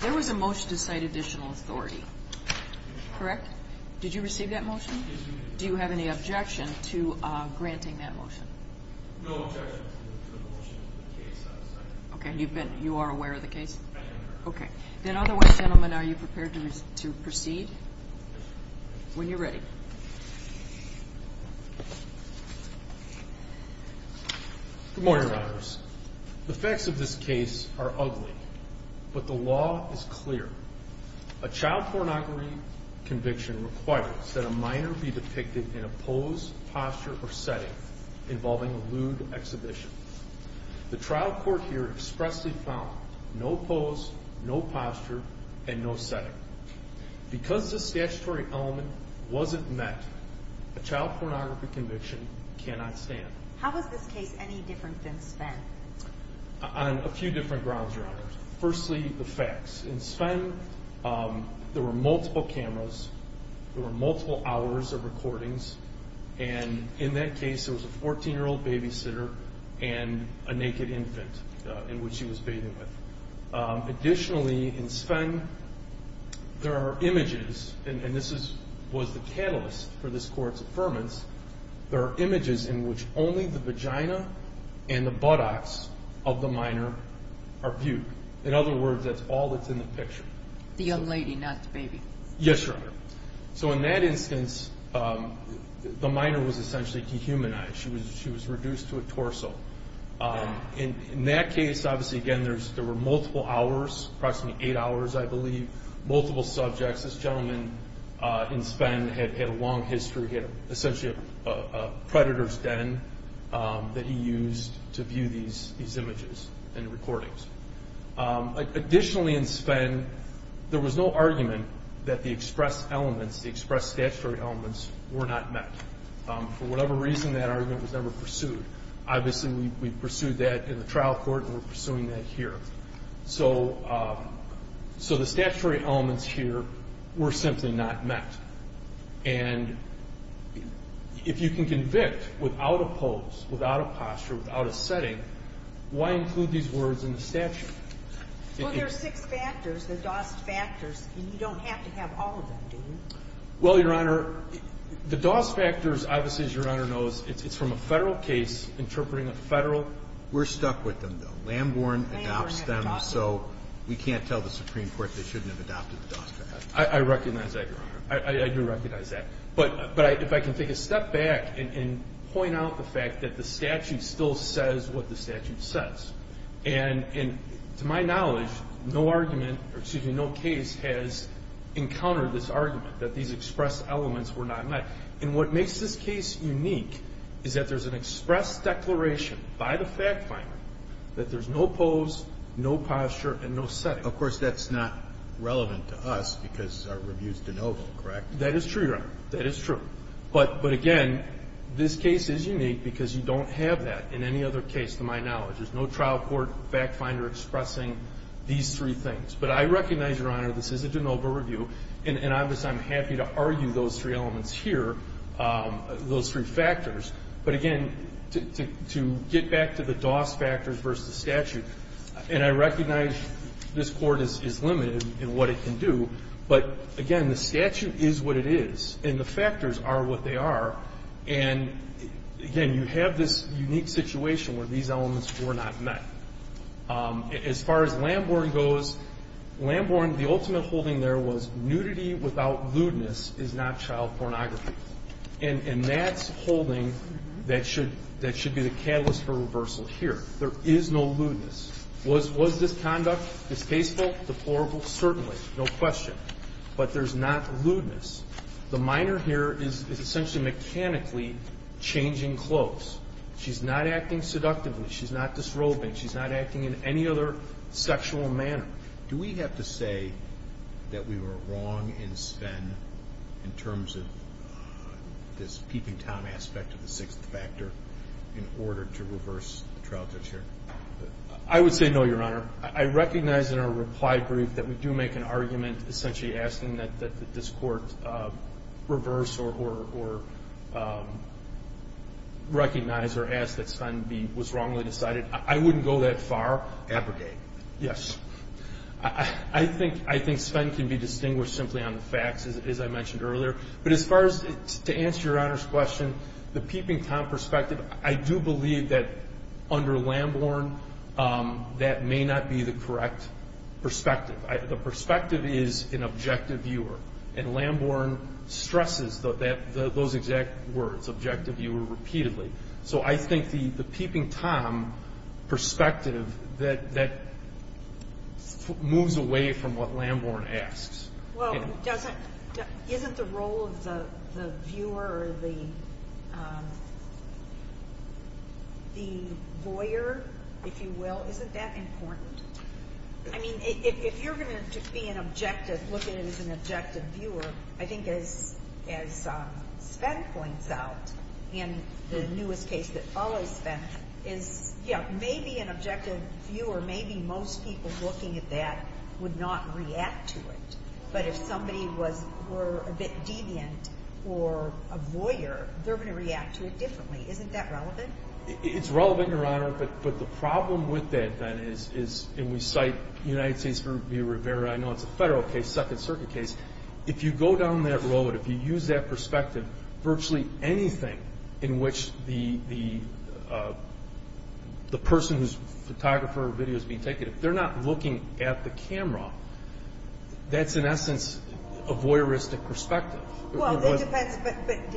There was a motion to cite additional authority, correct? Did you receive that motion? Do you have any objection to granting that motion? Okay. You've been you are aware of the case. Okay. Then otherwise, gentlemen, are you prepared to proceed when you're ready? Good morning. The facts of this case are ugly, but the law is clear. A child pornography conviction requires that a minor be depicted in a pose, posture or setting involving a lewd exhibition. The trial court here expressly found no pose, no posture and no setting. Because the statutory element wasn't met, a child pornography conviction cannot stand. How was this case any different than Sven? On a few different grounds, Your Honor. Firstly, the facts. In Sven, there were multiple cameras. There were multiple hours of recordings. And in that case, there was a 14 year old babysitter and a naked infant in which he was bathing with. Additionally, in Sven, there are images, and this was the catalyst for this court's affirmance, there are images in which only the vagina and the buttocks of the minor are viewed. In other words, that's all that's in the picture. The young lady, not the baby? Yes, Your Honor. So in that instance, the minor was essentially dehumanized. She was reduced to a torso. In that case, obviously, again, there were multiple hours, approximately eight hours, I believe, multiple subjects. This gentleman in Sven had a long history. He had essentially a predator's den that he used to view these images. And recordings. Additionally, in Sven, there was no argument that the expressed elements, the expressed statutory elements were not met. For whatever reason, that argument was never pursued. Obviously, we pursued that in the trial court and we're pursuing that here. So the statutory elements here were simply not met. And if you can convict without a pose, without a posture, without a setting, why include these words in the statute? Well, there are six factors, the DOS factors, and you don't have to have all of them, do you? Well, Your Honor, the DOS factors, obviously, as Your Honor knows, it's from a federal case interpreting a federal... We're stuck with them, though. Lambourne adopts them, so we can't tell the Supreme Court they shouldn't have adopted the DOS factors. I recognize that, Your Honor. I do recognize that. But if I can take a step back and point out the fact that the statute still says what the statute says. And to my knowledge, no argument, or excuse me, no case has encountered this argument that these expressed elements were not met. And what makes this case unique is that there's an express declaration by the fact finder that there's no pose, no posture, and no setting. Of course, that's not relevant to us because our review's denoted, correct? That is true, Your Honor. That is true. But again, this case is unique because you don't have that in any other case, to my knowledge. There's no trial court fact finder expressing these three things. But I recognize, Your Honor, this is a de novo review, and obviously, I'm happy to argue those three elements here, those three factors. But again, to get back to the DOS factors versus the statute, and I recognize this court is limited in what it can do. But again, the statute is what it is, and the factors are what they are. And again, you have this unique situation where these elements were not met. As far as Lamborn goes, Lamborn, the ultimate holding there was nudity without lewdness is not child pornography. And that's holding that should be the catalyst for reversal here. There is no lewdness. Was this conduct distasteful? Deplorable? Certainly. No question. But there's not lewdness. The minor here is essentially mechanically changing clothes. She's not acting seductively. She's not disrobing. She's not acting in any other sexual manner. Do we have to say that we were wrong in Sven, in terms of this peeping Tom aspect of the sixth factor, in order to reverse the trial judge here? I would say no, Your Honor. I recognize in our reply brief that we do make an argument essentially asking that this court reverse or recognize or ask that Sven was wrongly decided. I wouldn't go that far. Abrogate. Yes. I think Sven can be distinguished simply on the facts, as I mentioned earlier. But as far as... To answer Your Honor's question, the peeping Tom perspective, I do believe that under Lamborn, that may not be the correct perspective. The perspective is an objective viewer. And Lamborn stresses those exact words, objective viewer, repeatedly. So I think the peeping Tom perspective, that moves away from what Lamborn asks. Well, it doesn't... Isn't the role of the viewer or the lawyer, if you will, isn't that important? I mean, if you're gonna just be an objective, look at it as an objective viewer, I think as Sven points out, in the newest case that follows Sven, is yeah, maybe an objective viewer, maybe most people looking at that would not react to it. But if somebody was... Were a bit deviant or a lawyer, they're gonna react to it differently. Isn't that relevant? It's relevant, Your Honor, but the problem with that then is, and we cite United States v. Rivera, I know it's a federal case, Second Circuit case. If you go down that road, if you use that perspective, virtually anything in which the person who's photographer or video is being taken, if they're not looking at the camera, that's in essence, a voyeuristic perspective. Well, that depends, but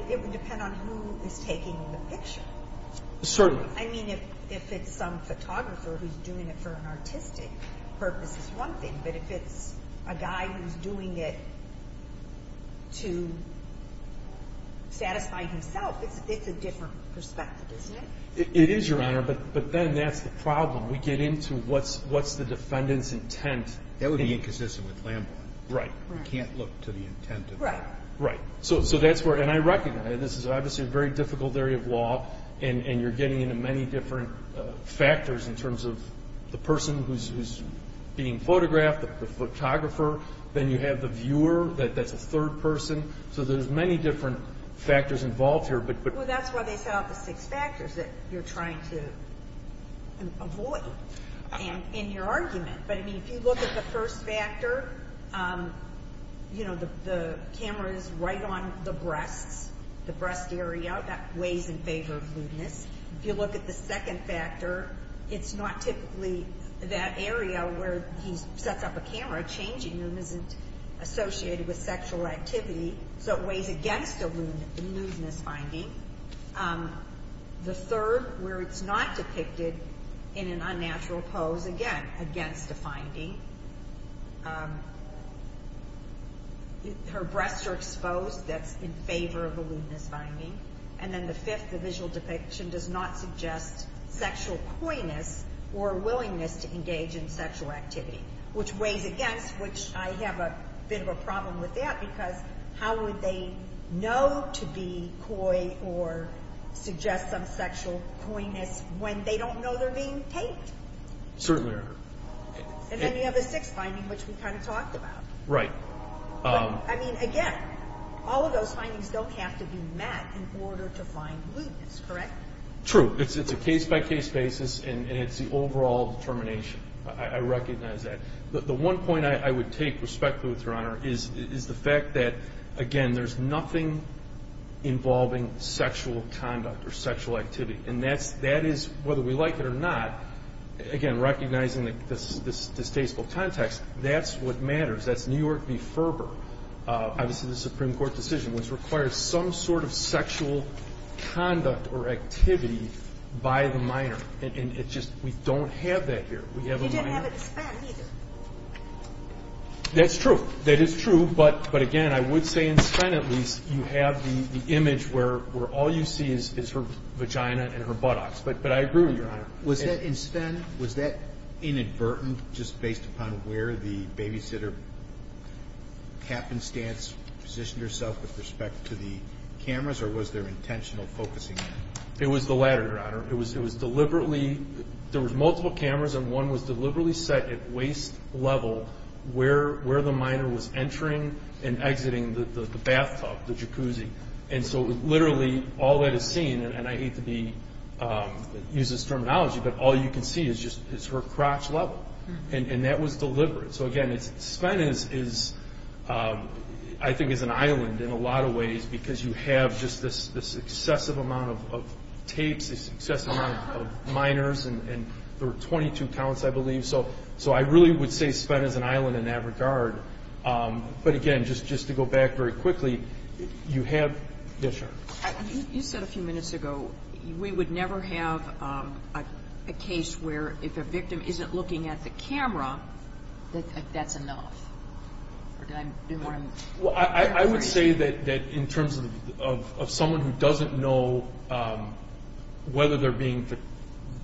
it would depend on who is taking the picture. Certainly. I mean, if it's some photographer who's doing it for an artistic purpose is one thing, but if it's a guy who's doing it to satisfy himself, it's a different perspective, isn't it? It is, Your Honor, but then that's the problem. We get into what's the defendant's intent. That would be inconsistent with Lambert. Right. Right. You can't look to the intent of that. Right. Right. So that's where... And I recognize this is obviously a very difficult area of law, and you're getting into many different factors in terms of the person who's being photographed, the photographer, then you have the viewer, that's a third person. So there's many different factors involved here, but... Well, that's why they set out the six factors that you're trying to avoid in your argument. But I mean, if you look at the first factor, the camera is right on the breasts, the breast area, that weighs in favor of lewdness. If you look at the second factor, it's not typically that area where he sets up a camera, changing them isn't associated with sexual activity, so it weighs against the lewdness finding. The third, where it's not depicted in an unnatural pose, again, against the finding. Her breasts are exposed, that's in favor of the lewdness finding. And then the fifth, the visual depiction does not suggest sexual coyness or willingness to engage in sexual activity, which weighs against, which I have a bit of a problem with that, because how would they know to be coy or suggest some sexual coyness when they don't know they're being taped? Certainly. And then you have the sixth finding, which we kind of talked about. Right. But I mean, again, all of those findings don't have to be met in order to find lewdness, correct? True. It's a case by case basis, and it's the overall determination. I recognize that. The one point I would take, respectfully with Your Honor, is the fact that, again, there's nothing involving sexual conduct or sexual activity. And that is, whether we like it or not, again, recognizing this distasteful context, that's what matters. That's New York v. Ferber, obviously the Supreme Court decision, which requires some sort of sexual conduct or activity by the minor. And it's just, we don't have that here. We have a minor... He didn't have it in Spen either. That's true. That is true. But again, I would say in Spen, at least, you have the image where all you see is her vagina and her buttocks. But I agree with you, Your Honor. Was that in Spen, was that inadvertent, just based upon where the babysitter happenstance positioned herself with respect to the cameras, or was there intentional focusing? It was the latter, Your Honor. It was deliberately... set at waist level where the minor was entering and exiting the bathtub, the jacuzzi. And so, literally, all that is seen, and I hate to use this terminology, but all you can see is just her crotch level, and that was deliberate. So again, Spen is, I think, is an island in a lot of ways, because you have this excessive amount of tapes, this excessive amount of minors, and there so I really would say Spen is an island in that regard. But again, just to go back very quickly, you have... Yes, Your Honor. You said a few minutes ago, we would never have a case where if a victim isn't looking at the camera, that's enough. Or did I do more than... I would say that in terms of someone who doesn't know whether they're being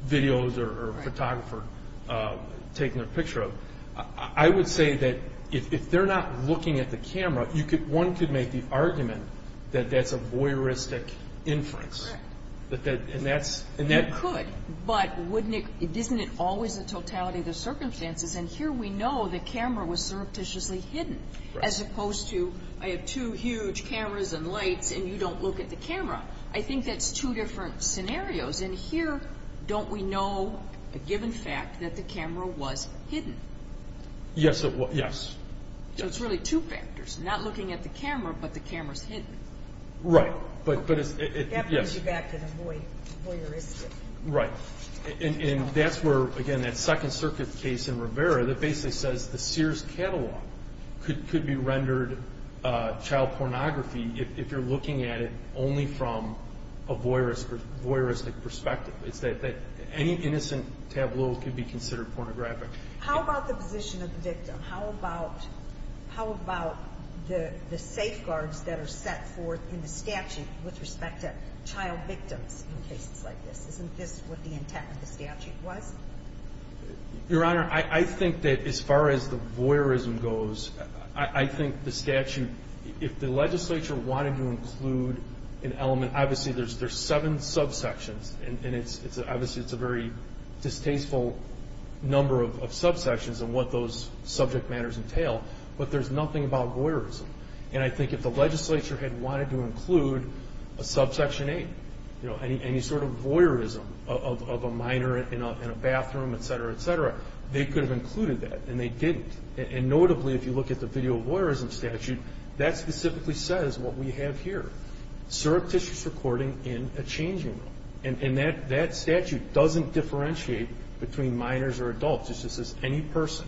videos or a photographer, taking a picture of, I would say that if they're not looking at the camera, one could make the argument that that's a voyeuristic inference. Correct. And that's... And that could, but wouldn't it... Isn't it always the totality of the circumstances? And here we know the camera was surreptitiously hidden, as opposed to, I have two huge cameras and lights, and you don't look at the camera. I think that's two different scenarios. And here, don't we know a given fact that the camera was hidden? Yes, it was. Yes. So it's really two factors, not looking at the camera, but the camera's hidden. Right. But it's... That brings you back to the voyeuristic. Right. And that's where, again, that Second Circuit case in Rivera, that basically says the Sears catalog could be rendered child pornography if you're looking at it only from a voyeuristic perspective. It's that any innocent tableau could be considered pornographic. How about the position of the victim? How about the safeguards that are set forth in the statute with respect to child victims in cases like this? Isn't this what the intent of the statute was? Your Honor, I think that as far as the voyeurism goes, I think the statute... If the legislature wanted to include an element... Obviously, there's seven subsections, and obviously, it's a very distasteful number of subsections and what those subject matters entail, but there's nothing about voyeurism. And I think if the legislature had wanted to include a subsection eight, any sort of voyeurism of a minor in a bathroom, et cetera, et cetera, they could have included that, and they look at the Video Voyeurism Statute, that specifically says what we have here, surreptitious recording in a changing room. And that statute doesn't differentiate between minors or adults. It's just as any person.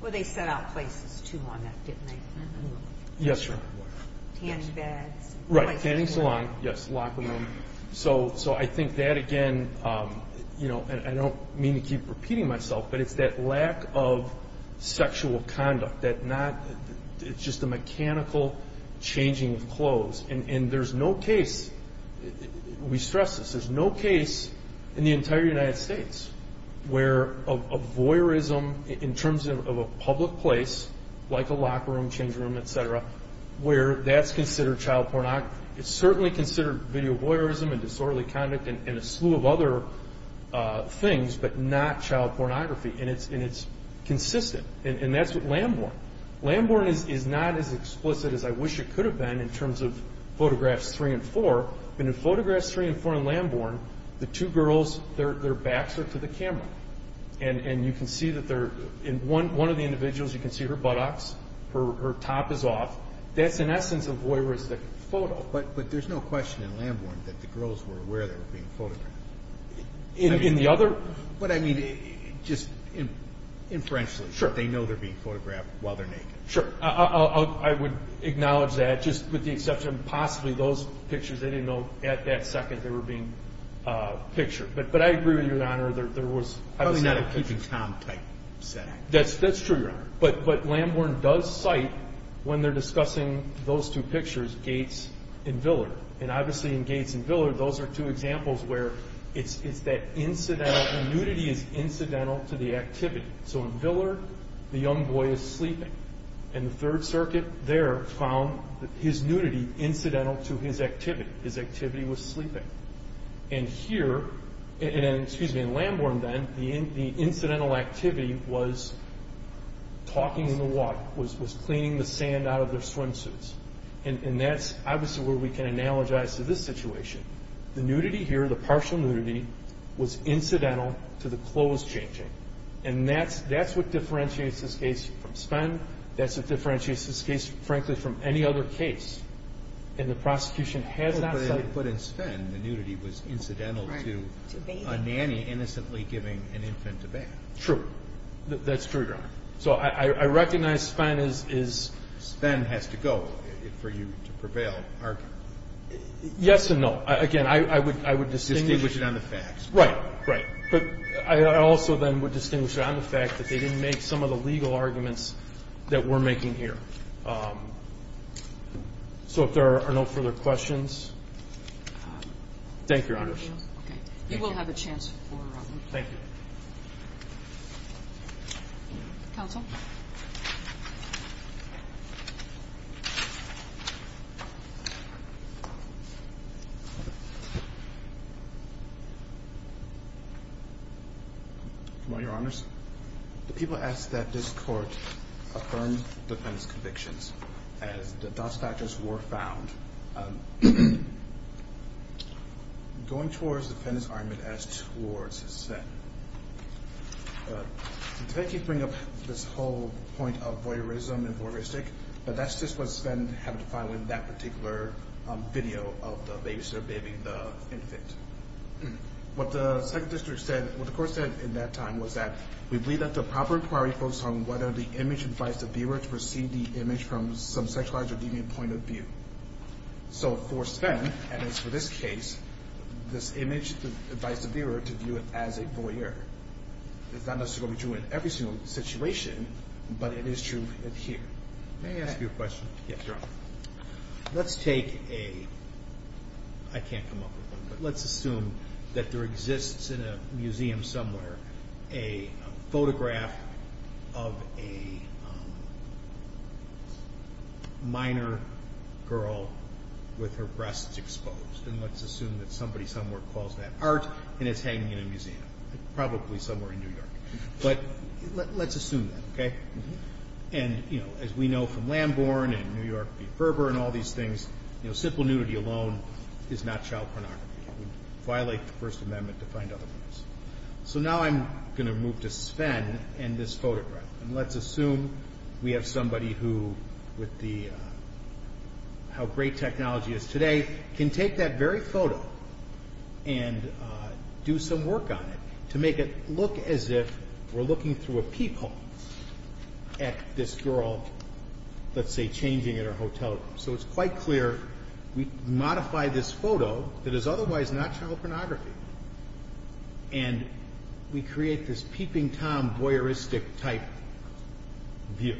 Well, they set out places too long, didn't they? Yes, Your Honor. Tanning beds. Right, tanning salon. Yes, locker room. So I think that, again... I don't mean to keep repeating myself, but it's that lack of sexual conduct, that not... It's just a mechanical changing of clothes. And there's no case... We stress this, there's no case in the entire United States where a voyeurism, in terms of a public place, like a locker room, changing room, et cetera, where that's considered child pornography. It's certainly considered video voyeurism and disorderly conduct and a slew of other things, but not child pornography, and it's consistent. And that's with Lambourne. Lambourne is not as explicit as I wish it could have been in terms of photographs three and four, but in photographs three and four in Lambourne, the two girls, their backs are to the camera. And you can see that they're... In one of the individuals, you can see her buttocks, her top is off. That's an essence of voyeuristic photo. But there's no question in Lambourne that the girls were aware they were being photographed. In the other... But I mean, just inferentially, that they know they're being photographed while they're naked. Sure. I would acknowledge that, just with the exception of possibly those pictures, they didn't know at that second they were being pictured. But I agree with you, Your Honor, there was... Probably not a Peeping Tom type setting. That's true, Your Honor. But Lambourne does cite, when they're discussing those two pictures, Gates and Villar. And obviously in Gates and Villar, those are two examples where it's that incidental... Nudity is incidental to the activity. So in Villar, the young boy is sleeping. And the Third Circuit there found his nudity incidental to his activity. His activity was sleeping. And here... And excuse me, in Lambourne then, the incidental activity was talking in the water, was cleaning the sand out of their swimsuits. And that's obviously where we can analogize to this situation. The nudity here, the partial nudity, was incidental to the clothes changing. And that's what differentiates this case from Spen. That's what differentiates this case, frankly, from any other case. And the prosecution has not cited... But in Spen, the nudity was incidental to a nanny innocently giving an infant a bath. True. That's true, Your Honor. So I recognize Spen is... Spen has to go for you to prevail. Yes and no. Again, I would distinguish it on the facts. Right, right. But I also then would distinguish it on the fact that they didn't make some of the legal arguments that we're making here. So if there are no further questions... Thank you, Your Honor. Okay. You will have a chance for... Thank you. Counsel. Come on, Your Honors. The people asked that this court affirm defendants' convictions as the dust factors were found. Going towards defendants' argument as towards Spen. Defendants keep bringing up this whole point of voyeurism and voyeuristic, but that's just what Spen had to file in that particular video of the babysitter bathing the infant. What the second district said... What the court said in that time was that, we believe that the proper inquiry focused on whether the image invites the viewer to perceive the image from some sexualized or deviant point of view. So for Spen, and it's for this case, this image invites the viewer to view it as a voyeur. It's not necessarily true in every single situation, but it is true here. May I ask you a question? Yes, Your Honor. Let's take a... I can't come up with one, but let's assume that there exists in a museum somewhere, a photograph of a minor girl with her breasts exposed. And let's assume that somebody somewhere calls that art and it's hanging in a museum, probably somewhere in New York. But let's assume that, okay? And as we know from Lambourne and New York v. Berber and all these things, simple nudity alone is not child pornography. It would violate the First Amendment to find other women. So now I'm gonna move to Spen and this photograph. And let's assume we have somebody who, with the... How great technology is today, can take that very photo and do some work on it to make it look as if we're looking through a peephole at this girl, let's say, changing at her hotel room. So it's quite clear, we modify this photo that is otherwise not child pornography, and we create this peeping Tom voyeuristic type view.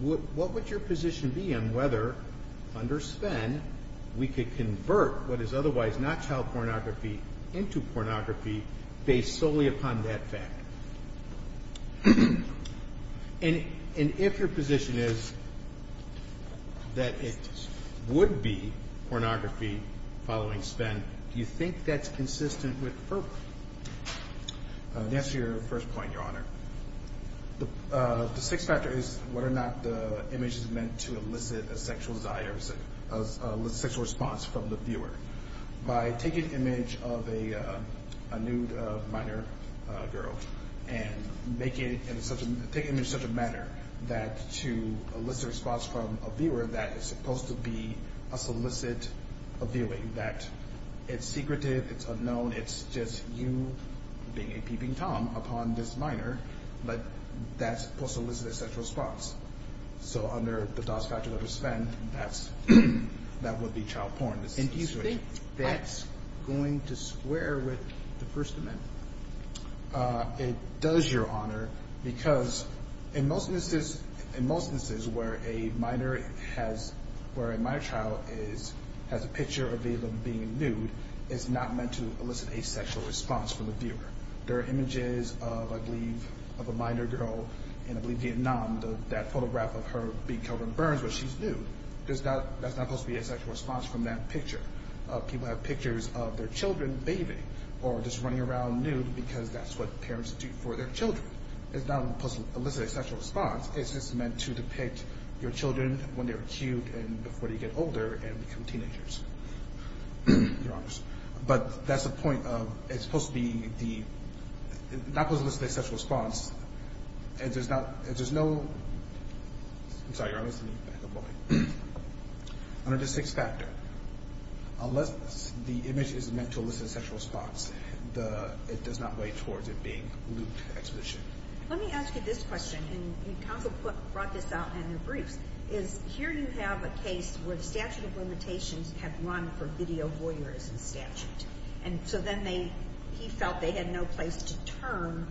What would your position be on whether, under Spen, we could convert what is otherwise not child pornography into pornography based solely upon that fact? And if your position is that it would be pornography following Spen, do you think that's consistent with FERPA? That's your first point, Your Honor. The sixth factor is whether or not the image is meant to elicit a sexual desire, a sexual response from the viewer. By taking an image of a nude minor girl and taking it in such a manner that to elicit a response from a viewer that is supposed to be a solicit of viewing, that it's secretive, it's unknown, it's just you being a peeping minor, but that's supposed to elicit a sexual response. So under the DOS factor under Spen, that would be child porn. And do you think that's going to square with the First Amendment? It does, Your Honor, because in most instances where a minor child has a picture of being nude, it's not meant to elicit a sexual response from the viewer. There are images of, I believe, of a minor girl in, I believe, Vietnam, that photograph of her being covered in burns, but she's nude. That's not supposed to be a sexual response from that picture. People have pictures of their children bathing or just running around nude because that's what parents do for their children. It's not supposed to elicit a sexual response. It's just meant to depict your children when they're cute and before they get older and become teenagers, Your Honor. So that's the point of, it's supposed to be the, it's not supposed to elicit a sexual response. If there's no, if there's no, I'm sorry, Your Honor, let me back up a little bit. Under the sixth factor, unless the image is meant to elicit a sexual response, it does not weigh towards it being lewd exposition. Let me ask you this question, and the counsel brought this out in their briefs, is here you have a case where the statute of limitations had run for video voyeurism statute. And so then they, he felt they had no place to turn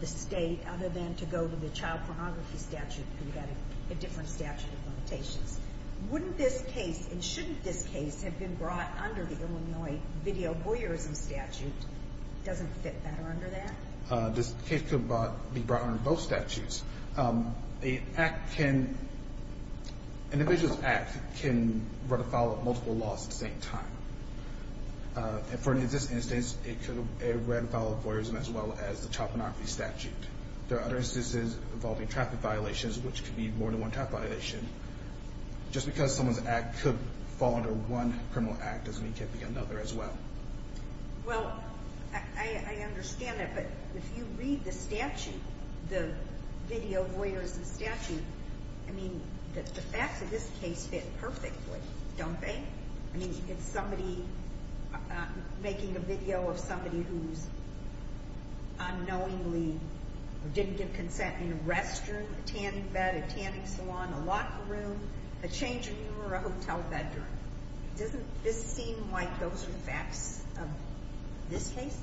the state other than to go to the child pornography statute, where you got a different statute of limitations. Wouldn't this case, and shouldn't this case have been brought under the Illinois video voyeurism statute? Doesn't fit better under that? This case could be brought under both multiple laws at the same time. And for this instance, it could be a red file of voyeurism as well as the child pornography statute. There are other instances involving traffic violations, which could be more than one traffic violation. Just because someone's act could fall under one criminal act doesn't mean it can't be another as well. Well, I understand that, but if you read the statute, the video voyeurism statute, I mean, the facts of this case fit perfectly, don't they? I mean, it's somebody making a video of somebody who's unknowingly or didn't give consent in a restroom, a tanning bed, a tanning salon, a locker room, a changing room, or a hotel bedroom. Doesn't this seem like those are the facts of this case?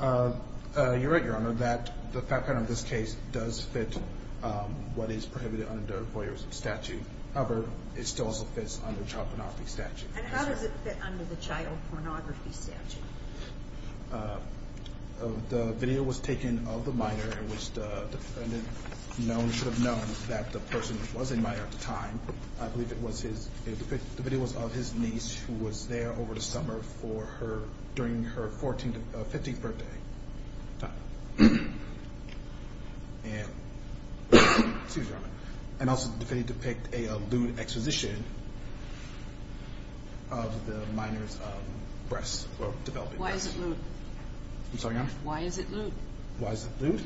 You're right, Your Honor, that the fact of this case does fit what is prohibited under voyeurism statute. However, it still also fits under child pornography statute. And how does it fit under the child pornography statute? The video was taken of the minor in which the defendant should have known that the person was a minor at the time. I believe it was his... The video was of his niece, who was there over the summer for her... During her 14th, 15th birthday time. And... Excuse me, Your Honor. And also the video depict a lewd exposition of the minor's breasts, developing breasts. Why is it lewd? I'm sorry, Your Honor? Why is it lewd? Why is it lewd?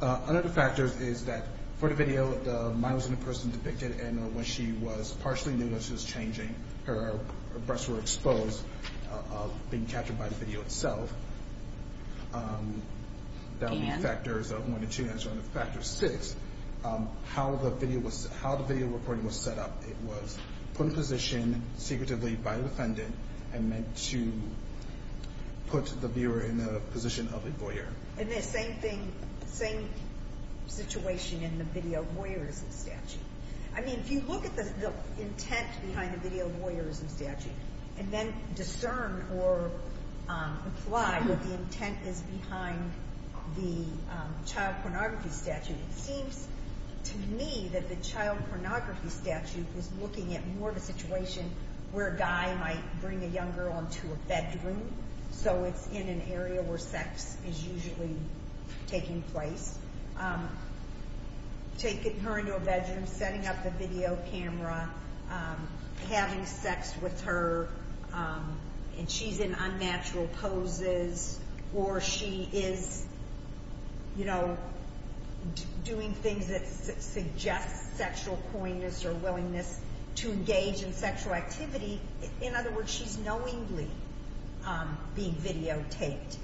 Another factor is that for the video, the minor was in a person depicted and when she was partially nude, when she was changing, her breasts were in the video itself. And... That would be factors one and two, that's one of the factors six. How the video was... How the video recording was set up, it was put in position secretively by the defendant and meant to put the viewer in the position of a voyeur. And the same thing, same situation in the video voyeurism statute. I mean, if you look at the intent behind the video voyeurism statute, and then discern or apply what the intent is behind the child pornography statute, it seems to me that the child pornography statute was looking at more of a situation where a guy might bring a young girl into a bedroom, so it's in an area where sex is usually taking place. Taking her into a bedroom, setting up the video camera, having sex with her and she's in unnatural poses, or she is doing things that suggest sexual poignance or willingness to engage in sexual activity. In other words, she's knowingly being videotaped.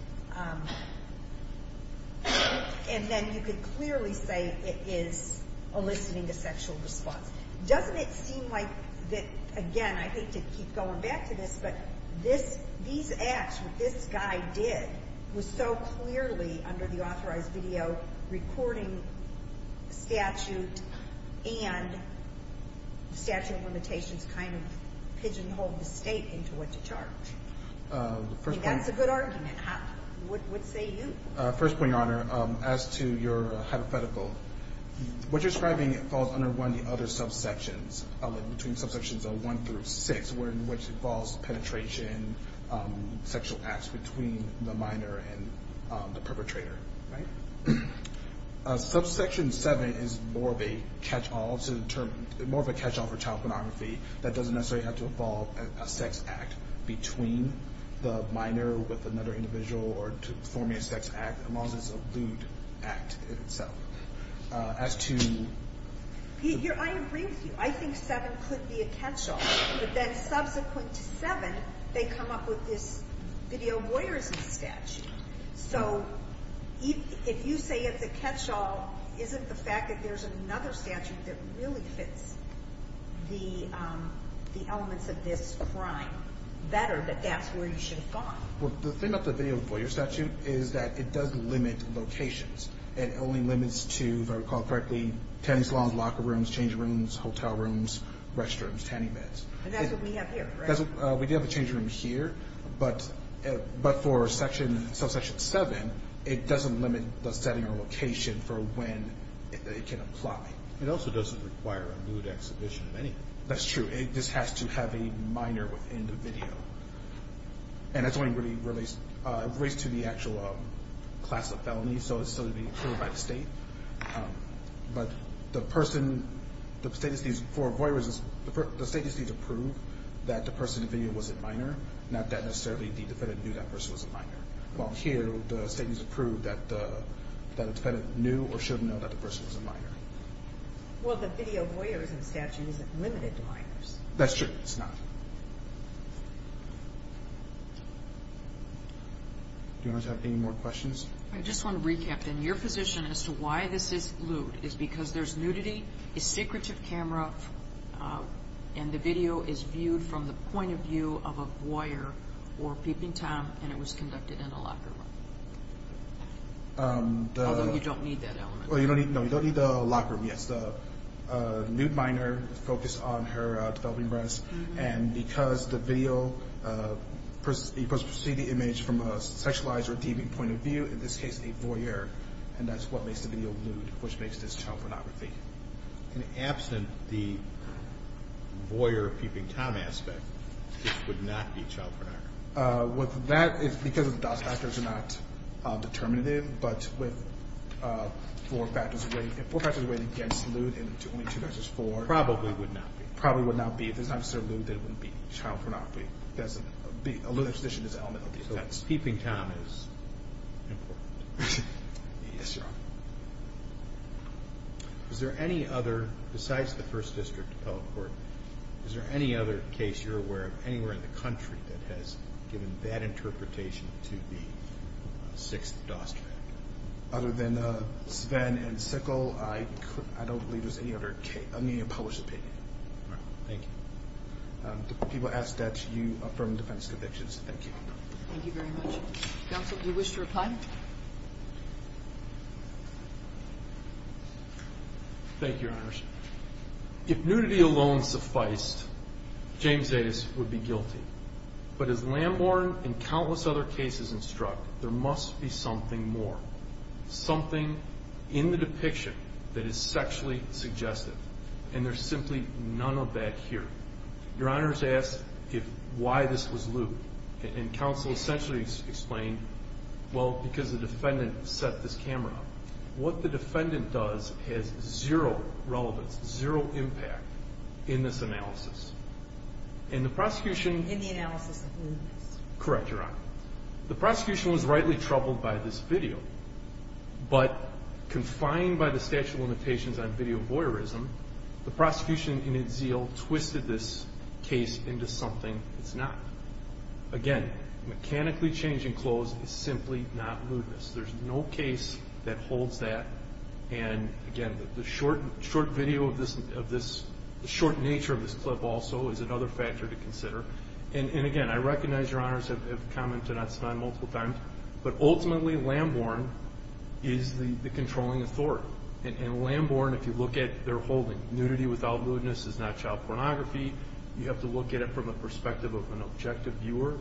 And then you could clearly say it is eliciting a sexual response. Doesn't it seem like that, again, I hate to keep going back to this, but these acts that this guy did was so clearly under the authorized video recording statute, and the statute of limitations kind of pigeonholed the state into what to charge. That's a good argument. What say you? First point, Your Honor. As to your hypothetical, what you're describing falls under one of the other subsections, between subsections of one through six, where in which involves penetration, sexual acts between the minor and the perpetrator. Right? Subsection seven is more of a catch all to the term, more of a catch all for child pornography that doesn't necessarily have to involve a sex act between the minor with another individual or to form a sex act, as long as it's a lewd act itself. As to... I agree with you. I think seven could be a catch all, but then subsequent to seven, they come up with this video voyeurism statute. So if you say it's a catch all, isn't the fact that there's another statute that really fits the elements of this crime better, that that's where you should find? Well, the thing about the video voyeur statute is that it does limit locations. It only limits to, if I recall correctly, tanning salons, locker rooms, change rooms, hotel rooms, restrooms, tanning beds. And that's what we have here, correct? We do have a change room here, but for subsection seven, it doesn't limit the setting or location for when it can apply. It also doesn't require a lewd exhibition of anything. That's true. It just has to have a minor with individual. And that's something really relates to the actual class of felonies, so it's still to be cleared by the state. But the person... The state just needs to prove that the person in the video was a minor, not that necessarily the defendant knew that person was a minor. While here, the state needs to prove that the defendant knew or should know that the person was a minor. Well, the video voyeurism statute isn't limited to minors. That's true. It's not. Do you guys have any more questions? I just wanna recap, then. Your position as to why this is lewd is because there's nudity, a secretive camera, and the video is viewed from the point of view of a voyeur or peeping Tom, and it was conducted in a locker room. Although you don't need that element. Well, you don't need... No, you don't need that element on her developing dress. And because the video... You could see the image from a sexualized or deeming point of view, in this case, a voyeur, and that's what makes the video lewd, which makes this child pornography. And absent the voyeur peeping Tom aspect, this would not be child pornography? With that, it's because the factors are not determinative, but with four factors away... Four factors away against four... Probably would not be. Probably would not be. If it's not so lewd, then it wouldn't be child pornography. That's a lewd position as an element of the offense. So peeping Tom is important. Yes, Your Honor. Is there any other, besides the First District appellate court, is there any other case you're aware of, anywhere in the country, that has given that interpretation to be sixth dose? Other than Sven and Sickle, I don't believe there's any other published opinion. Thank you. People ask that you affirm defense convictions. Thank you. Thank you very much. Counsel, do you wish to reply? Thank you, Your Honors. If nudity alone sufficed, James Davis would be guilty. But as Lamborn and countless other cases instruct, there must be something more. Something in the depiction that is sexually suggestive. And there's simply none of that here. Your Honors asked why this was lewd. And counsel essentially explained, well, because the defendant set this camera up. What the defendant does has zero relevance, zero impact in this analysis. And the prosecution... In the analysis of lewdness. Correct, Your Honor. The video. But confined by the statute of limitations on video voyeurism, the prosecution in its zeal twisted this case into something it's not. Again, mechanically changing clothes is simply not lewdness. There's no case that holds that. And again, the short video of this... The short nature of this clip also is another factor to consider. And again, I recognize Your Honors have commented on this multiple times. But ultimately, Lamborn is the controlling authority. And Lamborn, if you look at their holding, nudity without lewdness is not child pornography. You have to look at it from the perspective of an objective viewer.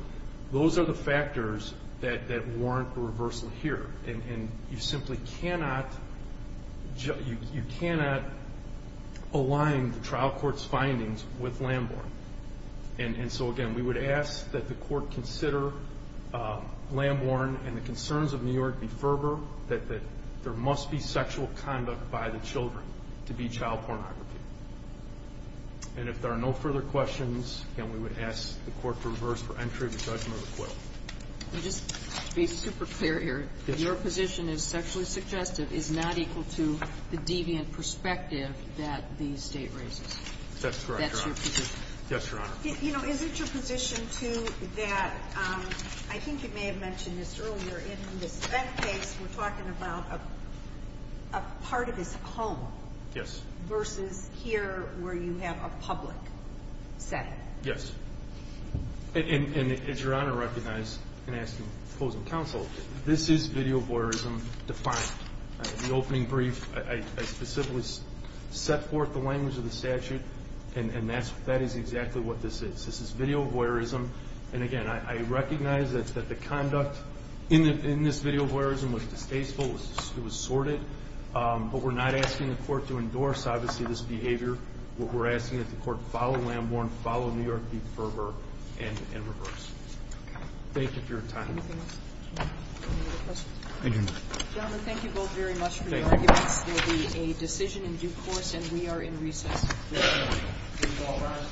Those are the factors that warrant a reversal here. And you simply cannot... You cannot align the trial court's findings with the fact that we consider Lamborn and the concerns of New York be fervor, that there must be sexual conduct by the children to be child pornography. And if there are no further questions, again, we would ask the court to reverse for entry of the judgment of the court. Just to be super clear here, your position is sexually suggestive is not equal to the deviant perspective that the state raises. That's correct, Your Honor. That's your position, too, that... I think you may have mentioned this earlier. In this spent case, we're talking about a part of his home... Yes. Versus here where you have a public setting. Yes. And as Your Honor recognized, and I ask you for closing counsel, this is video voyeurism defined. In the opening brief, I specifically set forth the language of the statute, and that is exactly what this is. This is video voyeurism. And again, I recognize that the conduct in this video voyeurism was distasteful, it was sordid. But we're not asking the court to endorse, obviously, this behavior. What we're asking is that the court follow Lamborn, follow New York, be fervor, and reverse. Okay. Thank you for your time. Anything else? Any other questions? Thank you, Your Honor. Gentlemen, thank you both very much for your arguments. There will be a decision in due course, and we are in recess. Thank you, Your Honor.